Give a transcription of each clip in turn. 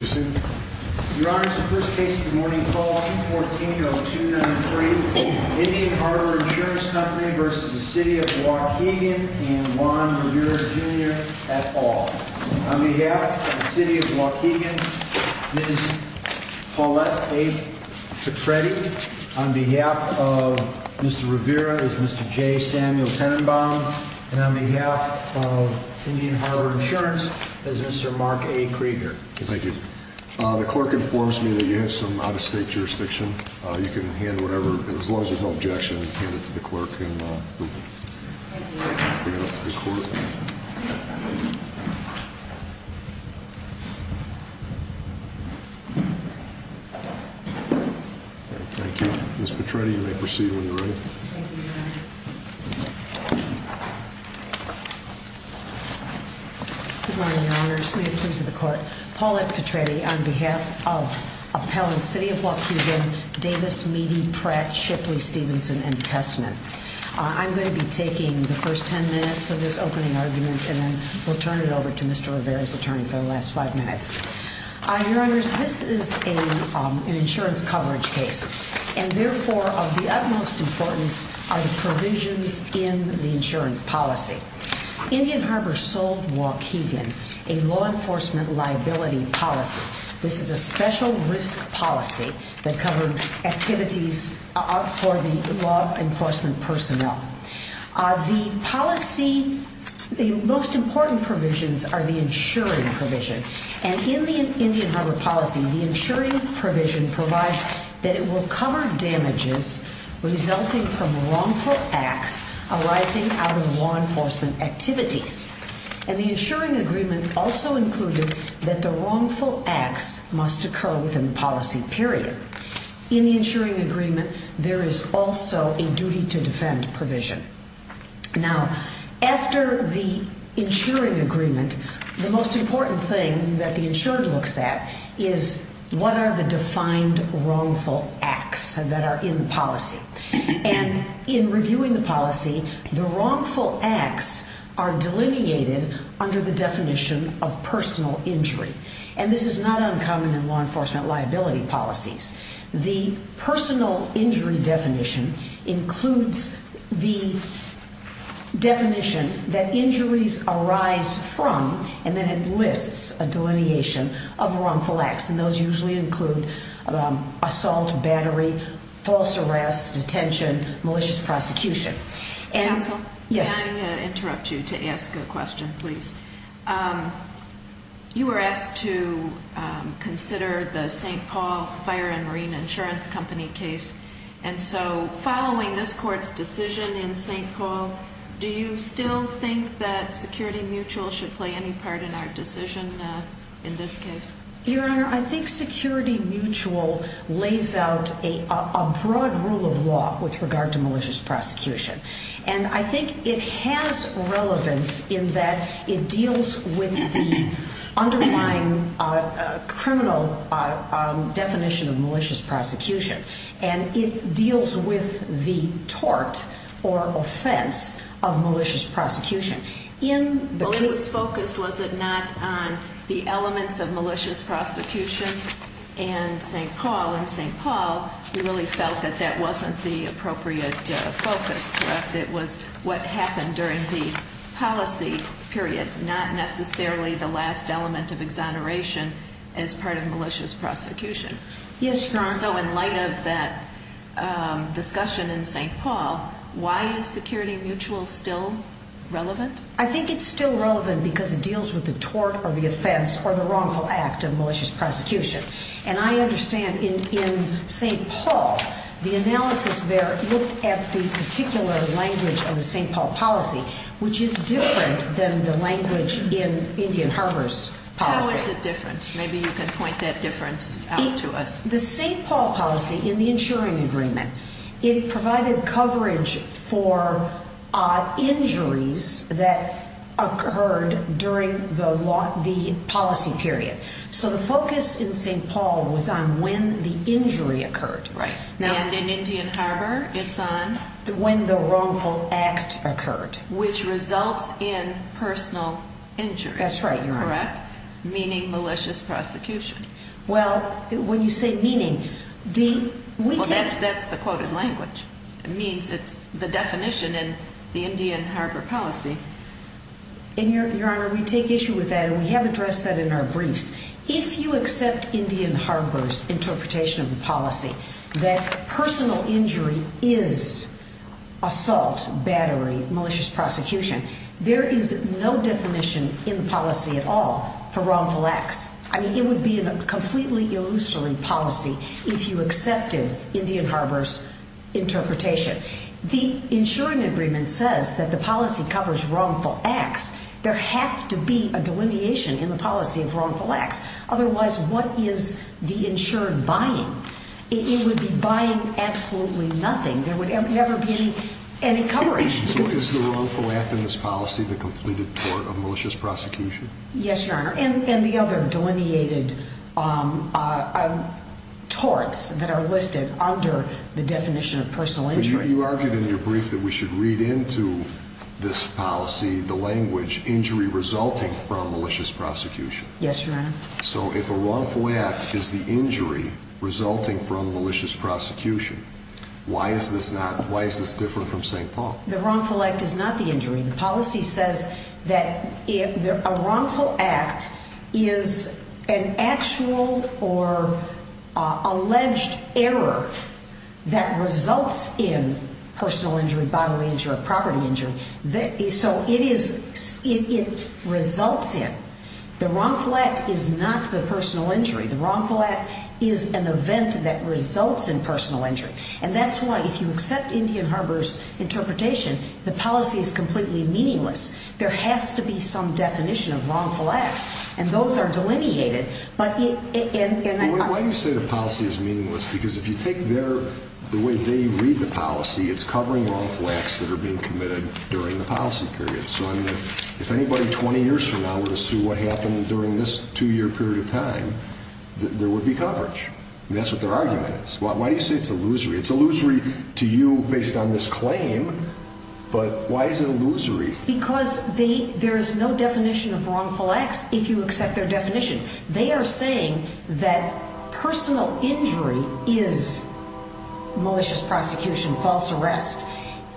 and Juan Rivera Jr. et al. On behalf of the City of Waukegan, Ms. Paulette A. Petretti. On behalf of Mr. Rivera is Mr. J. Samuel Tenenbaum. And on behalf of Indian Harbor Insurance is Mr. Mark A. Krieger. Thank you. The clerk informs me that you have some out-of-state jurisdiction. You can hand whatever, as long as there's no objection, hand it to the clerk and we'll bring it up to the court. Thank you. Ms. Petretti, you may proceed when you're ready. Good morning, Your Honors. May it please the court. Paulette Petretti on behalf of Appellants City of Waukegan, Davis, Meadey, Pratt, Shipley, Stevenson, and Testament. I'm going to be taking the first ten minutes of this opening argument and then we'll turn it over to Mr. Rivera's attorney for the last five minutes. Your Honors, this is an insurance coverage case and therefore of the utmost importance are the provisions in the insurance policy. Indian Harbor sold Waukegan a law enforcement liability policy. This is a special risk policy that covered activities for the law enforcement personnel. The policy, the most important provisions are the insuring provision. And in the Indian Harbor policy, the insuring provision provides that it will cover damages resulting from wrongful acts arising out of law enforcement activities. And the insuring agreement also included that the wrongful acts must occur within the policy period. In the insuring agreement, there is also a duty to defend provision. Now, after the insuring agreement, the most important thing that the insurer looks at is what are the defined wrongful acts that are in the policy. And in reviewing the policy, the wrongful acts are delineated under the definition of personal injury. And this is not uncommon in law enforcement liability policies. The personal injury definition includes the definition that injuries arise from, and then it lists a delineation of wrongful acts. And those usually include assault, battery, false arrest, detention, malicious prosecution. Counsel, may I interrupt you to ask a question, please? You were asked to consider the St. Paul Fire and Marine Insurance Company case. And so following this court's decision in St. Paul, do you still think that security mutual should play any part in our decision in this case? Your Honor, I think security mutual lays out a broad rule of law with regard to malicious prosecution. And I think it has relevance in that it deals with the underlying criminal definition of malicious prosecution. And it deals with the tort or offense of malicious prosecution. Well, it was focused, was it not, on the elements of malicious prosecution in St. Paul? In St. Paul, we really felt that that wasn't the appropriate focus, correct? It was what happened during the policy period, not necessarily the last element of exoneration as part of malicious prosecution. Yes, Your Honor. So in light of that discussion in St. Paul, why is security mutual still relevant? I think it's still relevant because it deals with the tort or the offense or the wrongful act of malicious prosecution. And I understand in St. Paul, the analysis there looked at the particular language of the St. Paul policy, which is different than the language in Indian Harbor's policy. How is it different? Maybe you can point that difference out to us. The St. Paul policy in the insuring agreement, it provided coverage for injuries that occurred during the policy period. So the focus in St. Paul was on when the injury occurred. Right. And in Indian Harbor, it's on? When the wrongful act occurred. Which results in personal injury. That's right, Your Honor. Correct? Meaning malicious prosecution. Well, when you say meaning, we take... Well, that's the quoted language. It means it's the definition in the Indian Harbor policy. And Your Honor, we take issue with that and we have addressed that in our briefs. If you accept Indian Harbor's interpretation of the policy that personal injury is assault, battery, malicious prosecution, there is no definition in the policy at all for wrongful acts. I mean, it would be a completely illusory policy if you accepted Indian Harbor's interpretation. The insuring agreement says that the policy covers wrongful acts. There has to be a delineation in the policy of wrongful acts. Otherwise, what is the insured buying? It would be buying absolutely nothing. There would never be any coverage. So is the wrongful act in this policy the completed tort of malicious prosecution? Yes, Your Honor. And the other delineated torts that are listed under the definition of personal injury. You argued in your brief that we should read into this policy the language, injury resulting from malicious prosecution. Yes, Your Honor. So if a wrongful act is the injury resulting from malicious prosecution, why is this different from St. Paul? The wrongful act is not the injury. The policy says that a wrongful act is an actual or alleged error that results in personal injury, bodily injury, or property injury. So it results in. The wrongful act is not the personal injury. The wrongful act is an event that results in personal injury. And that's why if you accept Indian Harbor's interpretation, the policy is completely meaningless. There has to be some definition of wrongful acts, and those are delineated. Why do you say the policy is meaningless? Because if you take the way they read the policy, it's covering wrongful acts that are being committed during the policy period. So if anybody 20 years from now were to sue what happened during this two-year period of time, there would be coverage. That's what their argument is. Why do you say it's illusory? It's illusory to you based on this claim, but why is it illusory? Because there is no definition of wrongful acts if you accept their definitions. They are saying that personal injury is malicious prosecution, false arrest,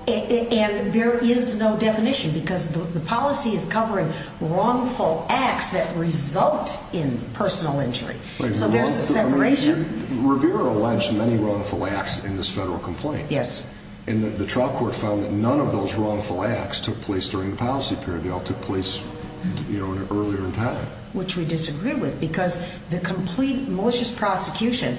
and there is no definition because the policy is covering wrongful acts that result in personal injury. So there's a separation. Revere alleged many wrongful acts in this federal complaint. Yes. And the trial court found that none of those wrongful acts took place during the policy period. They all took place earlier in time. Which we disagree with because the complete malicious prosecution,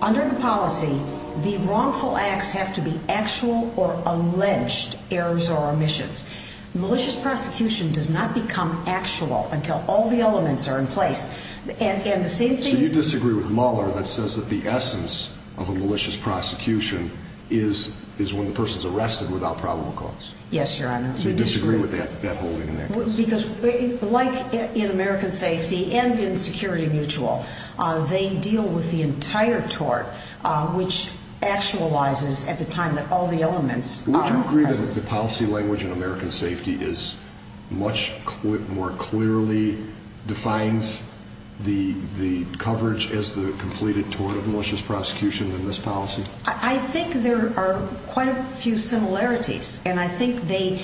under the policy, the wrongful acts have to be actual or alleged errors or omissions. Malicious prosecution does not become actual until all the elements are in place. So you disagree with Mueller that says that the essence of a malicious prosecution is when the person is arrested without probable cause? Yes, Your Honor. So you disagree with that holding in that case? Because like in American Safety and in Security Mutual, they deal with the entire tort, which actualizes at the time that all the elements are present. Would you agree that the policy language in American Safety is much more clearly defines the coverage as the completed tort of malicious prosecution than this policy? I think there are quite a few similarities. And I think they,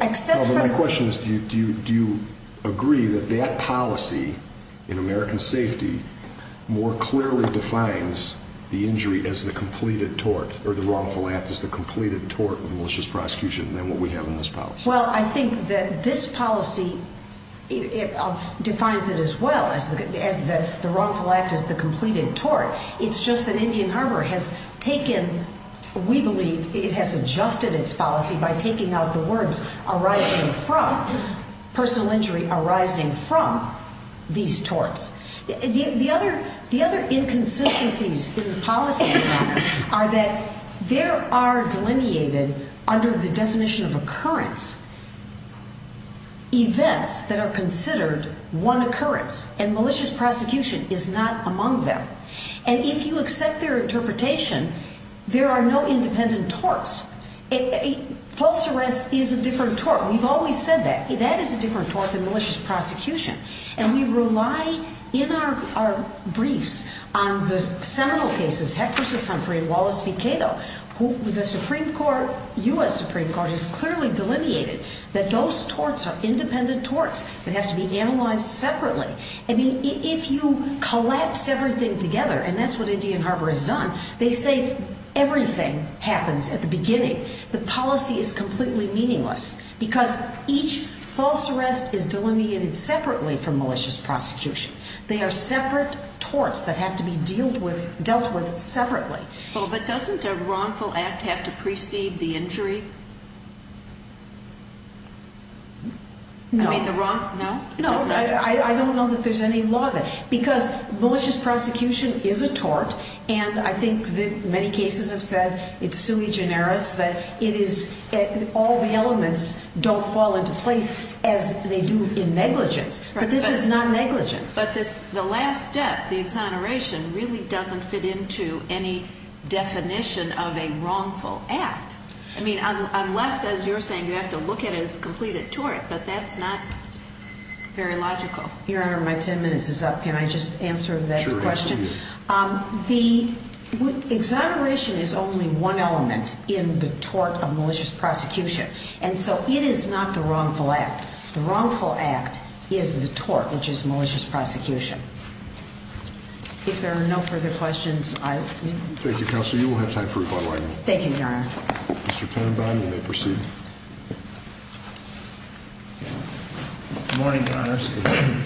except for... Well, I think that this policy defines it as well as the wrongful act as the completed tort. It's just that Indian Harbor has taken, we believe, it has adjusted its policy by taking out the words arising from, personal injury arising from, these torts. The other inconsistencies in the policy, Your Honor, are that there are delineated, under the definition of occurrence, events that are considered one occurrence. And malicious prosecution is not among them. And if you accept their interpretation, there are no independent torts. False arrest is a different tort. We've always said that. That is a different tort than malicious prosecution. And we rely, in our briefs, on the seminal cases, Heck v. Humphrey and Wallace v. Cato, who the Supreme Court, U.S. Supreme Court, has clearly delineated that those torts are independent torts that have to be analyzed separately. I mean, if you collapse everything together, and that's what Indian Harbor has done, they say everything happens at the beginning. The policy is completely meaningless because each false arrest is delineated separately from malicious prosecution. They are separate torts that have to be dealt with separately. Well, but doesn't a wrongful act have to precede the injury? No. No, I don't know that there's any law there. Because malicious prosecution is a tort, and I think that many cases have said, it's sui generis, that it is, all the elements don't fall into place as they do in negligence. But this is not negligence. But the last step, the exoneration, really doesn't fit into any definition of a wrongful act. I mean, unless, as you're saying, you have to look at it as the completed tort, but that's not very logical. Your Honor, my 10 minutes is up. Can I just answer that question? Sure. The exoneration is only one element in the tort of malicious prosecution, and so it is not the wrongful act. The wrongful act is the tort, which is malicious prosecution. If there are no further questions, I will... Thank you, Counselor. You will have time for a follow-up. Thank you, Your Honor. Mr. Tenenbaum, you may proceed. Good morning, Your Honors.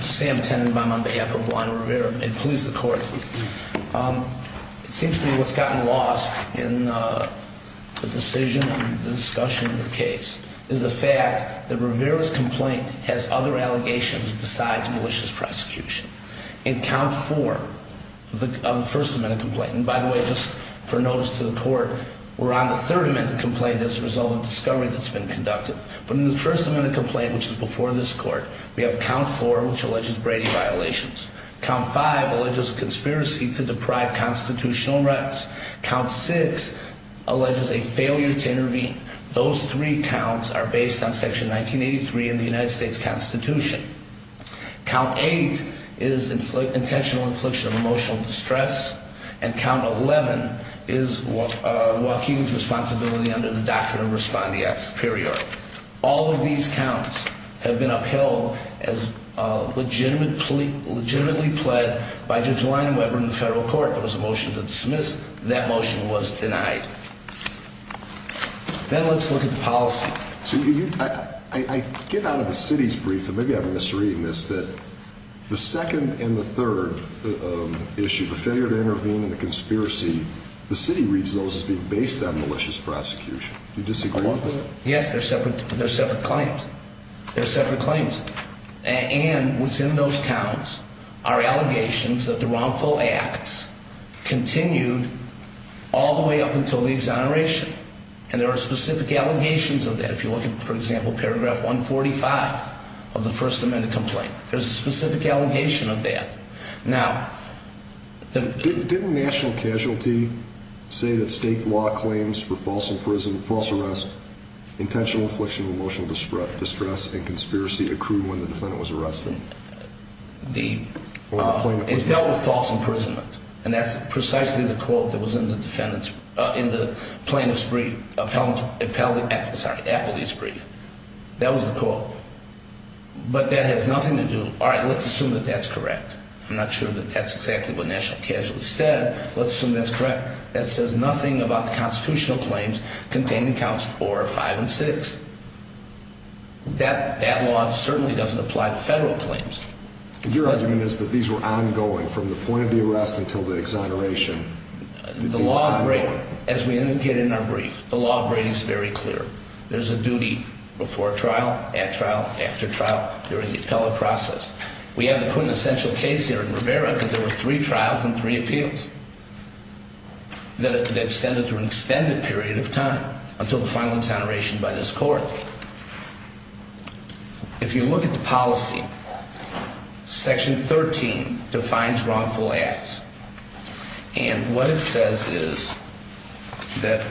Sam Tenenbaum on behalf of Juan Rivera, and please, the Court. It seems to me what's gotten lost in the decision and the discussion of the case is the fact that Rivera's complaint has other allegations besides malicious prosecution. In Count 4, the First Amendment complaint, and by the way, just for notice to the Court, we're on the Third Amendment complaint as a result of discovery that's been conducted. But in the First Amendment complaint, which is before this Court, we have Count 4, which alleges Brady violations. Count 5 alleges conspiracy to deprive constitutional rights. Count 6 alleges a failure to intervene. Those three counts are based on Section 1983 in the United States Constitution. Count 8 is intentional infliction of emotional distress. And Count 11 is Joaquin's responsibility under the Doctrine of Respondee at Superior. All of these counts have been upheld as legitimately pled by Judge Lyon Webber in the federal court. There was a motion to dismiss. That motion was denied. Then let's look at the policy. I get out of the city's brief, and maybe I'm misreading this, that the second and the third issue, the failure to intervene and the conspiracy, the city reads those as being based on malicious prosecution. Do you disagree with that? Yes, they're separate claims. They're separate claims. And within those counts are allegations that the wrongful acts continued all the way up until the exoneration. And there are specific allegations of that. If you look at, for example, Paragraph 145 of the First Amendment complaint, there's a specific allegation of that. Now, didn't national casualty say that state law claims for false arrest, intentional infliction of emotional distress, and conspiracy accrue when the defendant was arrested? It dealt with false imprisonment. And that's precisely the quote that was in the plaintiff's brief, appellee's brief. That was the quote. But that has nothing to do, all right, let's assume that that's correct. I'm not sure that that's exactly what national casualty said. Let's assume that's correct. That says nothing about the constitutional claims containing counts four, five, and six. That law certainly doesn't apply to federal claims. Your argument is that these were ongoing from the point of the arrest until the exoneration. The law of Brady, as we indicated in our brief, the law of Brady is very clear. There's a duty before trial, at trial, after trial, during the appellate process. We have the quintessential case here in Rivera because there were three trials and three appeals. They extended through an extended period of time until the final exoneration by this court. If you look at the policy, section 13 defines wrongful acts. And what it says is that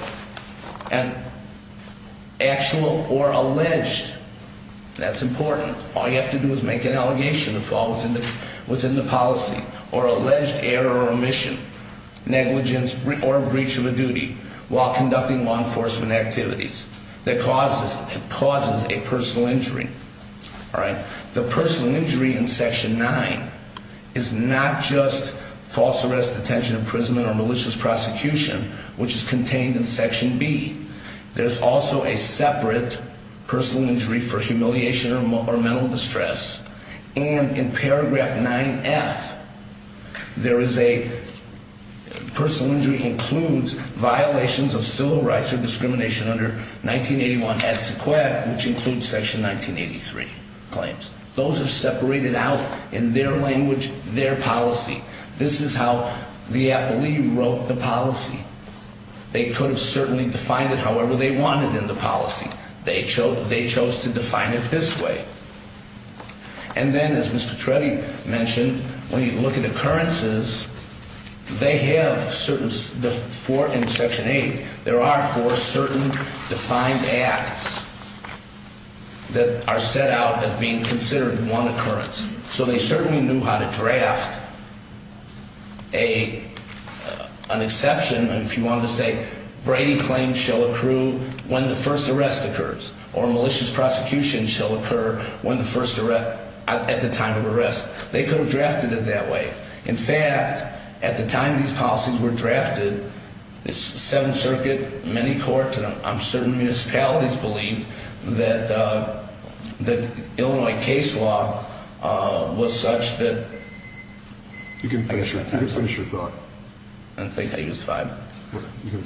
an actual or alleged, that's important, all you have to do is make an allegation. Allegation that falls within the policy or alleged error or omission, negligence, or breach of a duty while conducting law enforcement activities that causes a personal injury. All right. The personal injury in section nine is not just false arrest, detention, imprisonment, or malicious prosecution, which is contained in section B. There's also a separate personal injury for humiliation or mental distress. And in paragraph 9F, there is a personal injury includes violations of civil rights or discrimination under 1981 S. Which includes section 1983 claims. Those are separated out in their language, their policy. This is how the appellee wrote the policy. They could have certainly defined it however they wanted in the policy. They chose to define it this way. And then as Mr. Treddy mentioned, when you look at occurrences, they have certain, in section 8, there are four certain defined acts that are set out as being considered one occurrence. So they certainly knew how to draft an exception if you wanted to say Brady claims shall accrue when the first arrest occurs or malicious prosecution shall occur at the time of arrest. They could have drafted it that way. In fact, at the time these policies were drafted, the Seventh Circuit, many courts, and I'm certain municipalities believed that the Illinois case law was such that... You can finish your thought. I think I used five. You can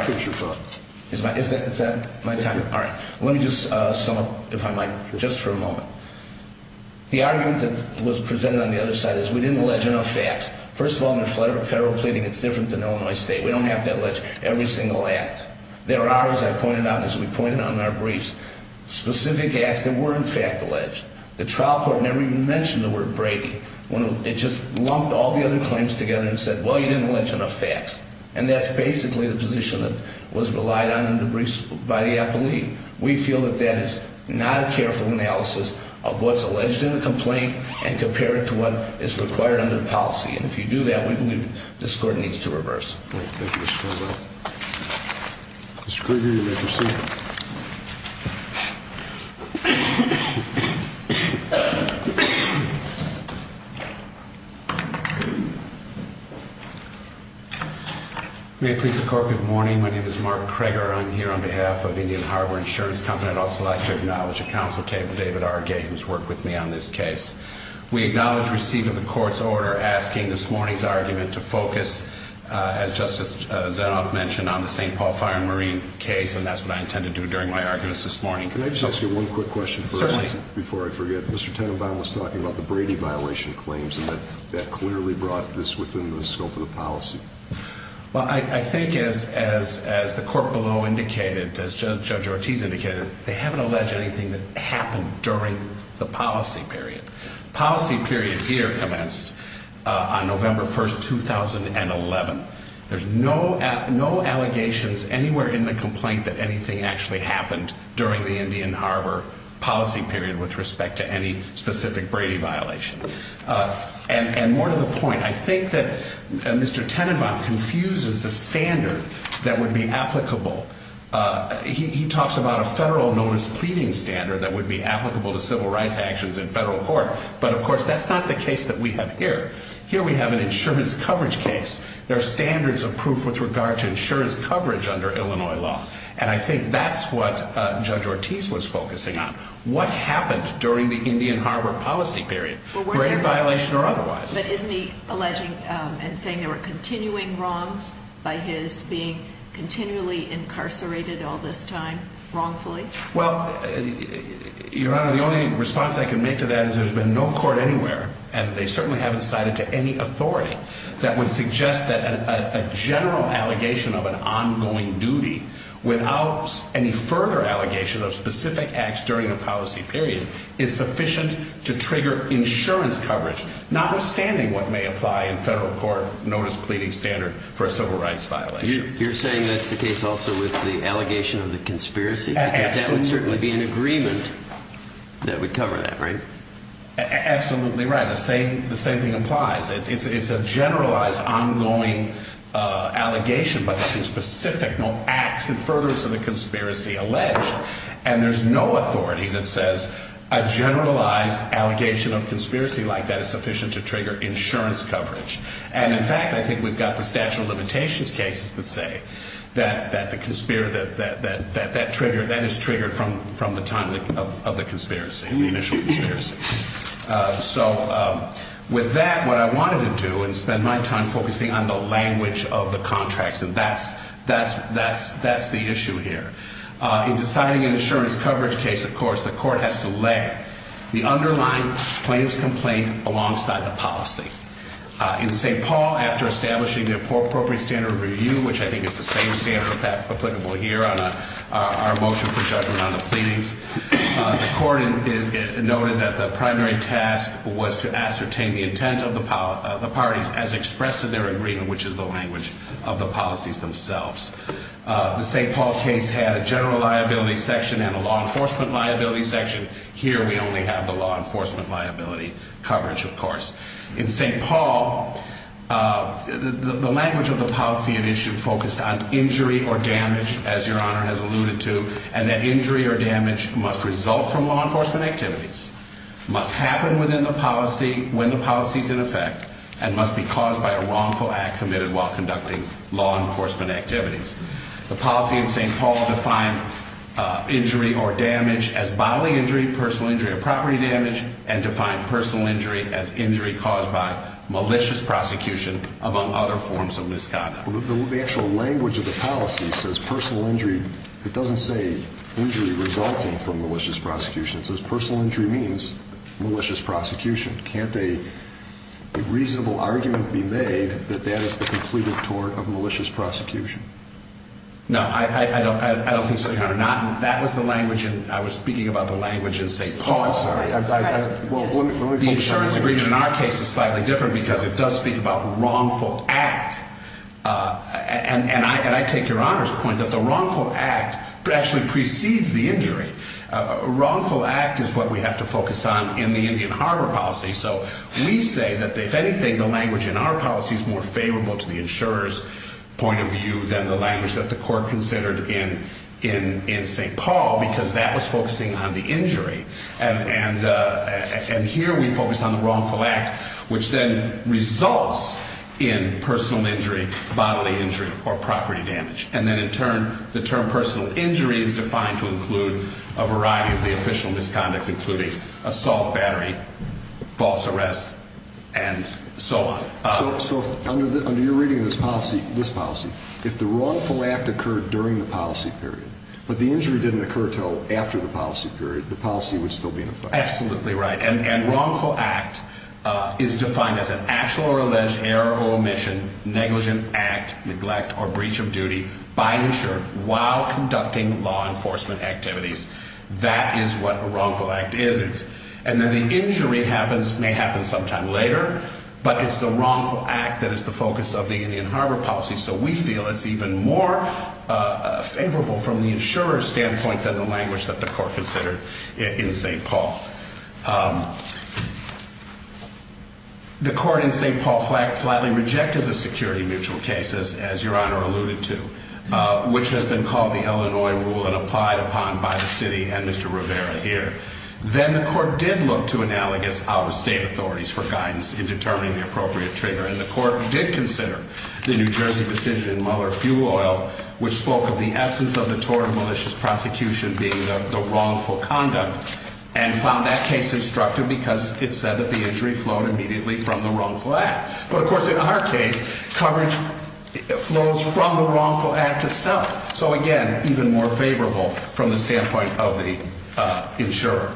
finish your thought. Is that my time? All right. Let me just sum up, if I might, just for a moment. The argument that was presented on the other side is we didn't allege enough facts. First of all, in a federal pleading, it's different than Illinois State. We don't have to allege every single act. There are, as I pointed out, as we pointed out in our briefs, specific acts that were in fact alleged. The trial court never even mentioned the word Brady. It just lumped all the other claims together and said, well, you didn't allege enough facts. And that's basically the position that was relied on in the briefs by the appellee. We feel that that is not a careful analysis of what's alleged in the complaint and compare it to what is required under the policy. And if you do that, we believe this court needs to reverse. Thank you, Mr. Farrell. Mr. Krueger, you may proceed. May it please the court, good morning. My name is Mark Krueger. I'm here on behalf of Indian Harbor Insurance Company. I'd also like to acknowledge a counsel, David R. Gay, who's worked with me on this case. We acknowledge receipt of the court's order asking this morning's argument to focus, as Justice Zenoff mentioned, on the St. Paul Fire and Marine case, and that's what I intend to do during my arguments this morning. Can I just ask you one quick question first? Certainly. Before I forget, Mr. Tenenbaum was talking about the Brady violation claims, and that clearly brought this within the scope of the policy. Well, I think as the court below indicated, as Judge Ortiz indicated, they haven't alleged anything that happened during the policy period. Policy period here commenced on November 1, 2011. There's no allegations anywhere in the complaint that anything actually happened during the Indian Harbor policy period with respect to any specific Brady violation. And more to the point, I think that Mr. Tenenbaum confuses the standard that would be applicable. He talks about a federal notice pleading standard that would be applicable to civil rights actions in federal court, but, of course, that's not the case that we have here. Here we have an insurance coverage case. There are standards of proof with regard to insurance coverage under Illinois law, and I think that's what Judge Ortiz was focusing on. What happened during the Indian Harbor policy period, Brady violation or otherwise? But isn't he alleging and saying there were continuing wrongs by his being continually incarcerated all this time wrongfully? Well, Your Honor, the only response I can make to that is there's been no court anywhere, and they certainly haven't cited to any authority, that would suggest that a general allegation of an ongoing duty without any further allegation of specific acts during the policy period is sufficient to trigger insurance coverage, notwithstanding what may apply in federal court notice pleading standard for a civil rights violation. You're saying that's the case also with the allegation of the conspiracy? Absolutely. Because that would certainly be an agreement that would cover that, right? Absolutely right. The same thing applies. It's a generalized ongoing allegation, but nothing specific, no acts in furtherance of the conspiracy alleged. And there's no authority that says a generalized allegation of conspiracy like that is sufficient to trigger insurance coverage. And, in fact, I think we've got the statute of limitations cases that say that that is triggered from the time of the conspiracy, the initial conspiracy. So with that, what I wanted to do and spend my time focusing on the language of the contracts, and that's the issue here. In deciding an insurance coverage case, of course, the court has to lay the underlying claims complaint alongside the policy. In St. Paul, after establishing the appropriate standard of review, which I think is the same standard applicable here on our motion for judgment on the pleadings, the court noted that the primary task was to ascertain the intent of the parties as expressed in their agreement, which is the language of the policies themselves. The St. Paul case had a general liability section and a law enforcement liability section. Here we only have the law enforcement liability coverage, of course. In St. Paul, the language of the policy and issue focused on injury or damage, as Your Honor has alluded to, and that injury or damage must result from law enforcement activities, must happen within the policy when the policy is in effect, and must be caused by a wrongful act committed while conducting law enforcement activities. The policy in St. Paul defined injury or damage as bodily injury, personal injury or property damage, and defined personal injury as injury caused by malicious prosecution, among other forms of misconduct. The actual language of the policy says personal injury. It doesn't say injury resulting from malicious prosecution. It says personal injury means malicious prosecution. Can't a reasonable argument be made that that is the completed tort of malicious prosecution? No, I don't think so, Your Honor. That was the language, and I was speaking about the language in St. Paul. The insurance agreement in our case is slightly different because it does speak about wrongful act, and I take Your Honor's point that the wrongful act actually precedes the injury. Wrongful act is what we have to focus on in the Indian Harbor policy, so we say that, if anything, the language in our policy is more favorable to the insurer's point of view than the language that the court considered in St. Paul because that was focusing on the injury, and here we focus on the wrongful act, which then results in personal injury, bodily injury, or property damage, and then in turn, the term personal injury is defined to include a variety of the official misconduct, including assault, battery, false arrest, and so on. So under your reading of this policy, if the wrongful act occurred during the policy period, but the injury didn't occur until after the policy period, the policy would still be in effect. Absolutely right, and wrongful act is defined as an actual or alleged error or omission, negligent act, neglect, or breach of duty by an insurer while conducting law enforcement activities. That is what a wrongful act is, and then the injury may happen sometime later, but it's the wrongful act that is the focus of the Indian Harbor policy, so we feel it's even more favorable from the insurer's standpoint than the language that the court considered in St. Paul. The court in St. Paul flatly rejected the security mutual case, as your Honor alluded to, which has been called the Illinois rule and applied upon by the city and Mr. Rivera here. Then the court did look to analogous out-of-state authorities for guidance in determining the appropriate trigger, and the court did consider the New Jersey decision in Mueller Fuel Oil, which spoke of the essence of the tort and malicious prosecution being the wrongful conduct, and found that case instructive because it said that the injury flowed immediately from the wrongful act. But of course, in our case, coverage flows from the wrongful act itself, so again, even more favorable from the standpoint of the insurer.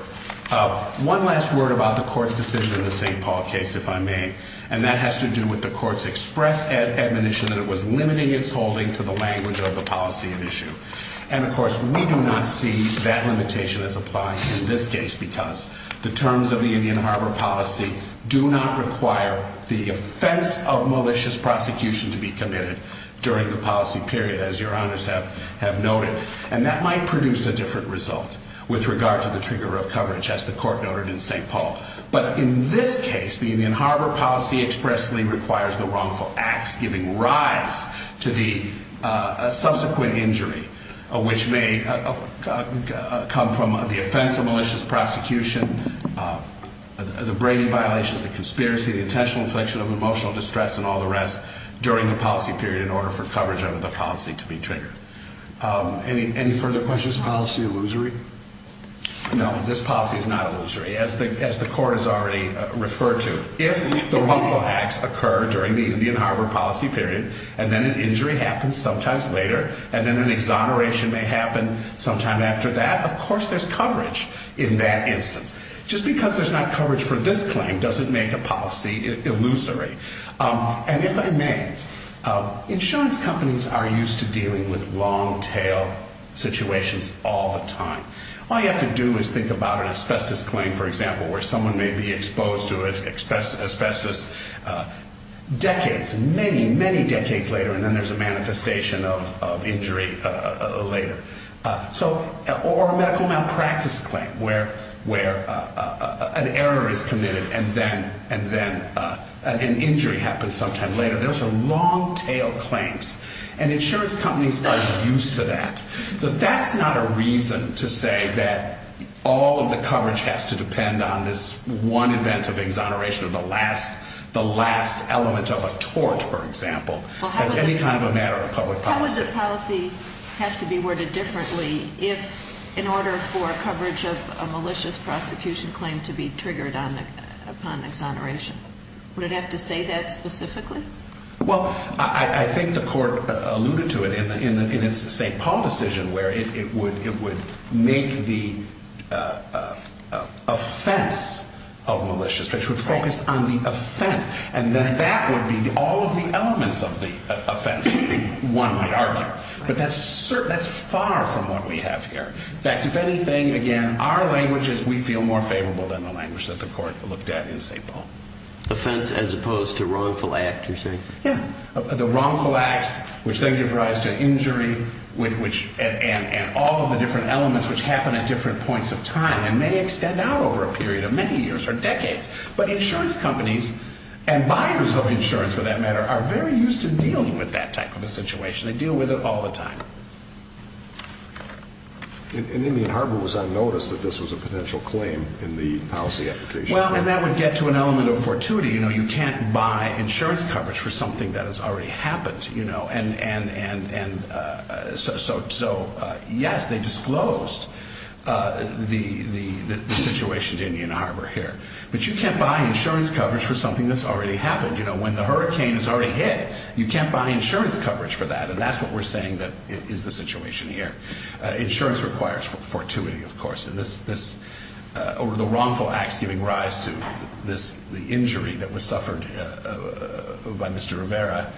One last word about the court's decision in the St. Paul case, if I may, and that has to do with the court's express admonition that it was limiting its holding to the language of the policy at issue. And of course, we do not see that limitation as applying in this case because the terms of the Indian Harbor policy do not require the offense of malicious prosecution to be committed during the policy period, as your Honors have noted. And that might produce a different result with regard to the trigger of coverage, as the court noted in St. Paul. But in this case, the Indian Harbor policy expressly requires the wrongful acts, giving rise to the subsequent injury, which may come from the offense of malicious prosecution, the brainy violations, the conspiracy, the intentional infliction of emotional distress, and all the rest, during the policy period in order for coverage under the policy to be triggered. Any further questions? Is this policy illusory? No, this policy is not illusory, as the court has already referred to. If the wrongful acts occur during the Indian Harbor policy period, and then an injury happens sometimes later, and then an exoneration may happen sometime after that, of course there's coverage in that instance. Just because there's not coverage for this claim doesn't make a policy illusory. And if I may, insurance companies are used to dealing with long-tail situations all the time. All you have to do is think about an asbestos claim, for example, where someone may be exposed to asbestos decades, many, many decades later, and then there's a manifestation of injury later. Or a medical malpractice claim, where an error is committed and then an injury happens sometime later. Those are long-tail claims. And insurance companies are used to that. So that's not a reason to say that all of the coverage has to depend on this one event of exoneration, or the last element of a tort, for example, as any kind of a matter of public policy. How would the policy have to be worded differently if, in order for coverage of a malicious prosecution claim to be triggered upon exoneration? Would it have to say that specifically? Well, I think the court alluded to it in its St. Paul decision, where it would make the offense of malicious, which would focus on the offense, and then that would be all of the elements of the offense, one might argue. But that's far from what we have here. In fact, if anything, again, our language is we feel more favorable than the language that the court looked at in St. Paul. Offense as opposed to wrongful act, you're saying? Yeah, the wrongful acts, which then give rise to injury and all of the different elements which happen at different points of time and may extend out over a period of many years or decades. But insurance companies and buyers of insurance, for that matter, are very used to dealing with that type of a situation. They deal with it all the time. And Indian Harbor was on notice that this was a potential claim in the policy application. Well, and that would get to an element of fortuity. You can't buy insurance coverage for something that has already happened. And so, yes, they disclosed the situation to Indian Harbor here. But you can't buy insurance coverage for something that's already happened. When the hurricane has already hit, you can't buy insurance coverage for that. And that's what we're saying is the situation here. Insurance requires fortuity, of course. And the wrongful acts giving rise to the injury that was suffered by Mr. Rivera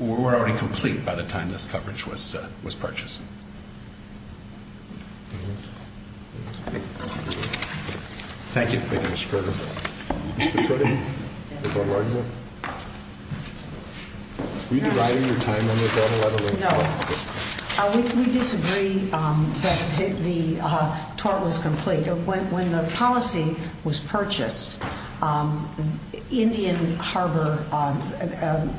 were already complete by the time this coverage was purchased. Thank you. Thank you, Mr. Carter. Mr. Cuddy? Yes. Do you have an argument? No. Were you dividing your time under that level? No. We disagree that the tort was complete. When the policy was purchased, Indian Harbor,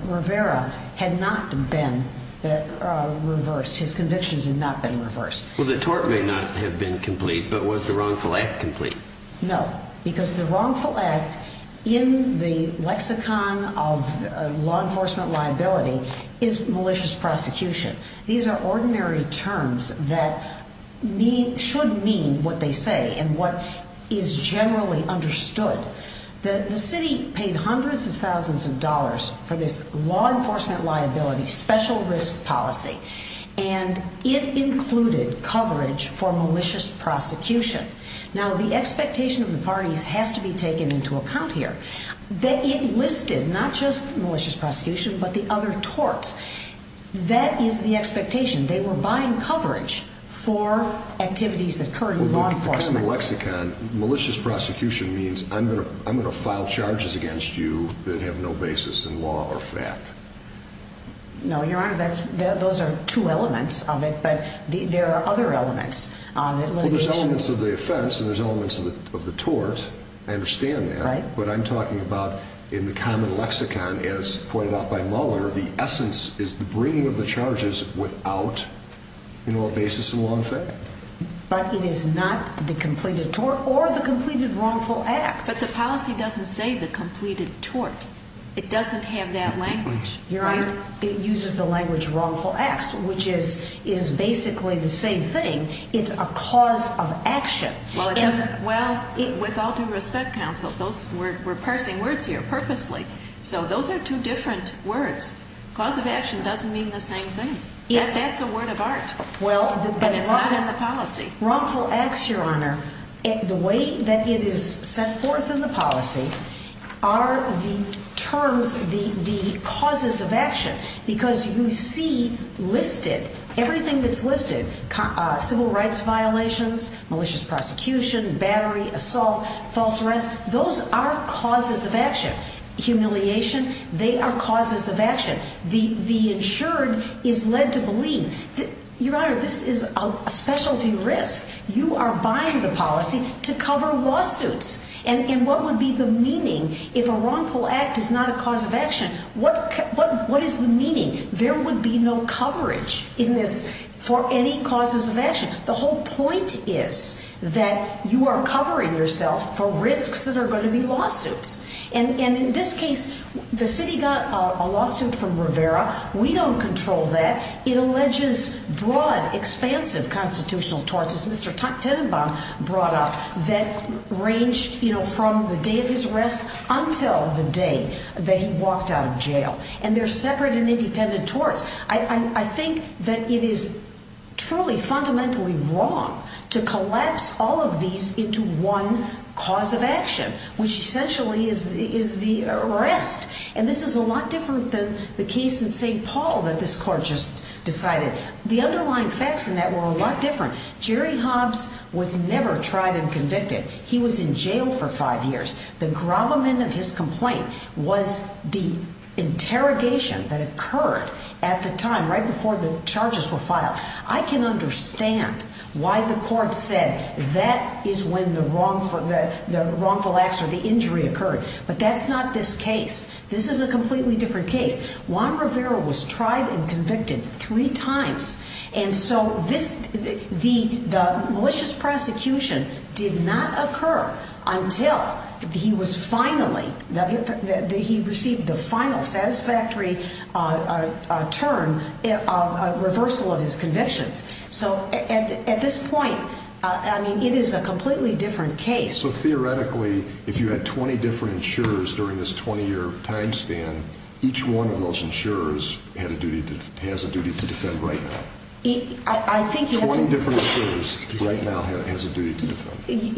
Rivera had not been reversed. His convictions had not been reversed. Well, the tort may not have been complete, but was the wrongful act complete? No. Because the wrongful act in the lexicon of law enforcement liability is malicious prosecution. These are ordinary terms that should mean what they say and what is generally understood. The city paid hundreds of thousands of dollars for this law enforcement liability special risk policy, and it included coverage for malicious prosecution. Now, the expectation of the parties has to be taken into account here that it listed not just malicious prosecution but the other torts. That is the expectation. They were buying coverage for activities that occurred in law enforcement. Because in the lexicon, malicious prosecution means I'm going to file charges against you that have no basis in law or fact. No, Your Honor, those are two elements of it, but there are other elements. Well, there's elements of the offense and there's elements of the tort. I understand that. But I'm talking about in the common lexicon, as pointed out by Mueller, the essence is the bringing of the charges without a basis in law and fact. But it is not the completed tort or the completed wrongful act. But the policy doesn't say the completed tort. It doesn't have that language. Your Honor, it uses the language wrongful acts, which is basically the same thing. It's a cause of action. Well, with all due respect, counsel, we're parsing words here purposely. So those are two different words. Cause of action doesn't mean the same thing. That's a word of art. But it's not in the policy. Wrongful acts, Your Honor, the way that it is set forth in the policy, are the terms, the causes of action. Because you see listed, everything that's listed, civil rights violations, malicious prosecution, battery, assault, false arrest, those are causes of action. Humiliation, they are causes of action. The insured is led to believe. Your Honor, this is a specialty risk. You are buying the policy to cover lawsuits. And what would be the meaning if a wrongful act is not a cause of action? What is the meaning? There would be no coverage in this for any causes of action. The whole point is that you are covering yourself for risks that are going to be lawsuits. And in this case, the city got a lawsuit from Rivera. We don't control that. It alleges broad, expansive constitutional torts, as Mr. Tenenbaum brought up, that ranged from the day of his arrest until the day that he walked out of jail. And they're separate and independent torts. I think that it is truly fundamentally wrong to collapse all of these into one cause of action, which essentially is the arrest. And this is a lot different than the case in St. Paul that this Court just decided. The underlying facts in that were a lot different. Jerry Hobbs was never tried and convicted. He was in jail for five years. The gravamen of his complaint was the interrogation that occurred at the time, right before the charges were filed. I can understand why the Court said that is when the wrongful acts or the injury occurred. But that's not this case. This is a completely different case. Juan Rivera was tried and convicted three times. And so the malicious prosecution did not occur until he was finally, he received the final satisfactory term of reversal of his convictions. So at this point, I mean, it is a completely different case. So theoretically, if you had 20 different insurers during this 20-year time span, each one of those insurers has a duty to defend right now. 20 different insurers right now has a duty to defend.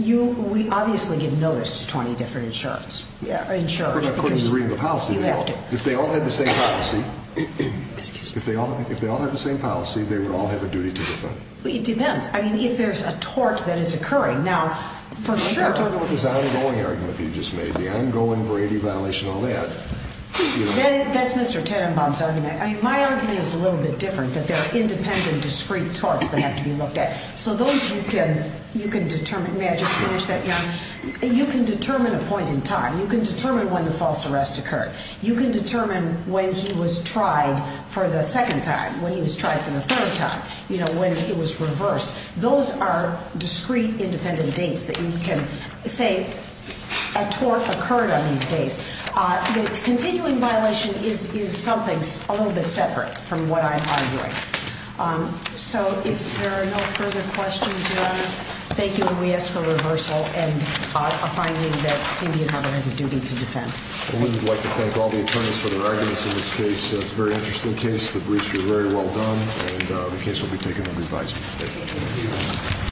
We obviously give notice to 20 different insurers. Of course, according to the reading of the policy, they all. If they all had the same policy, they would all have a duty to defend. It depends. I mean, if there's a tort that is occurring, now, for sure. I don't know what this ongoing argument that you just made, the ongoing Brady violation, all that. That's Mr. Tenenbaum's argument. I mean, my argument is a little bit different, that there are independent discrete torts that have to be looked at. So those you can determine. May I just finish that, Jan? You can determine a point in time. You can determine when the false arrest occurred. You can determine when he was tried for the second time, when he was tried for the third time, when he was reversed. Those are discrete independent dates that you can say a tort occurred on these days. The continuing violation is something a little bit separate from what I'm arguing. So if there are no further questions, Your Honor, thank you. And we ask for reversal and a finding that Indian Harbor has a duty to defend. We would like to thank all the attorneys for their arguments in this case. It's a very interesting case. The briefs were very well done. And the case will be taken under advisory. Thank you.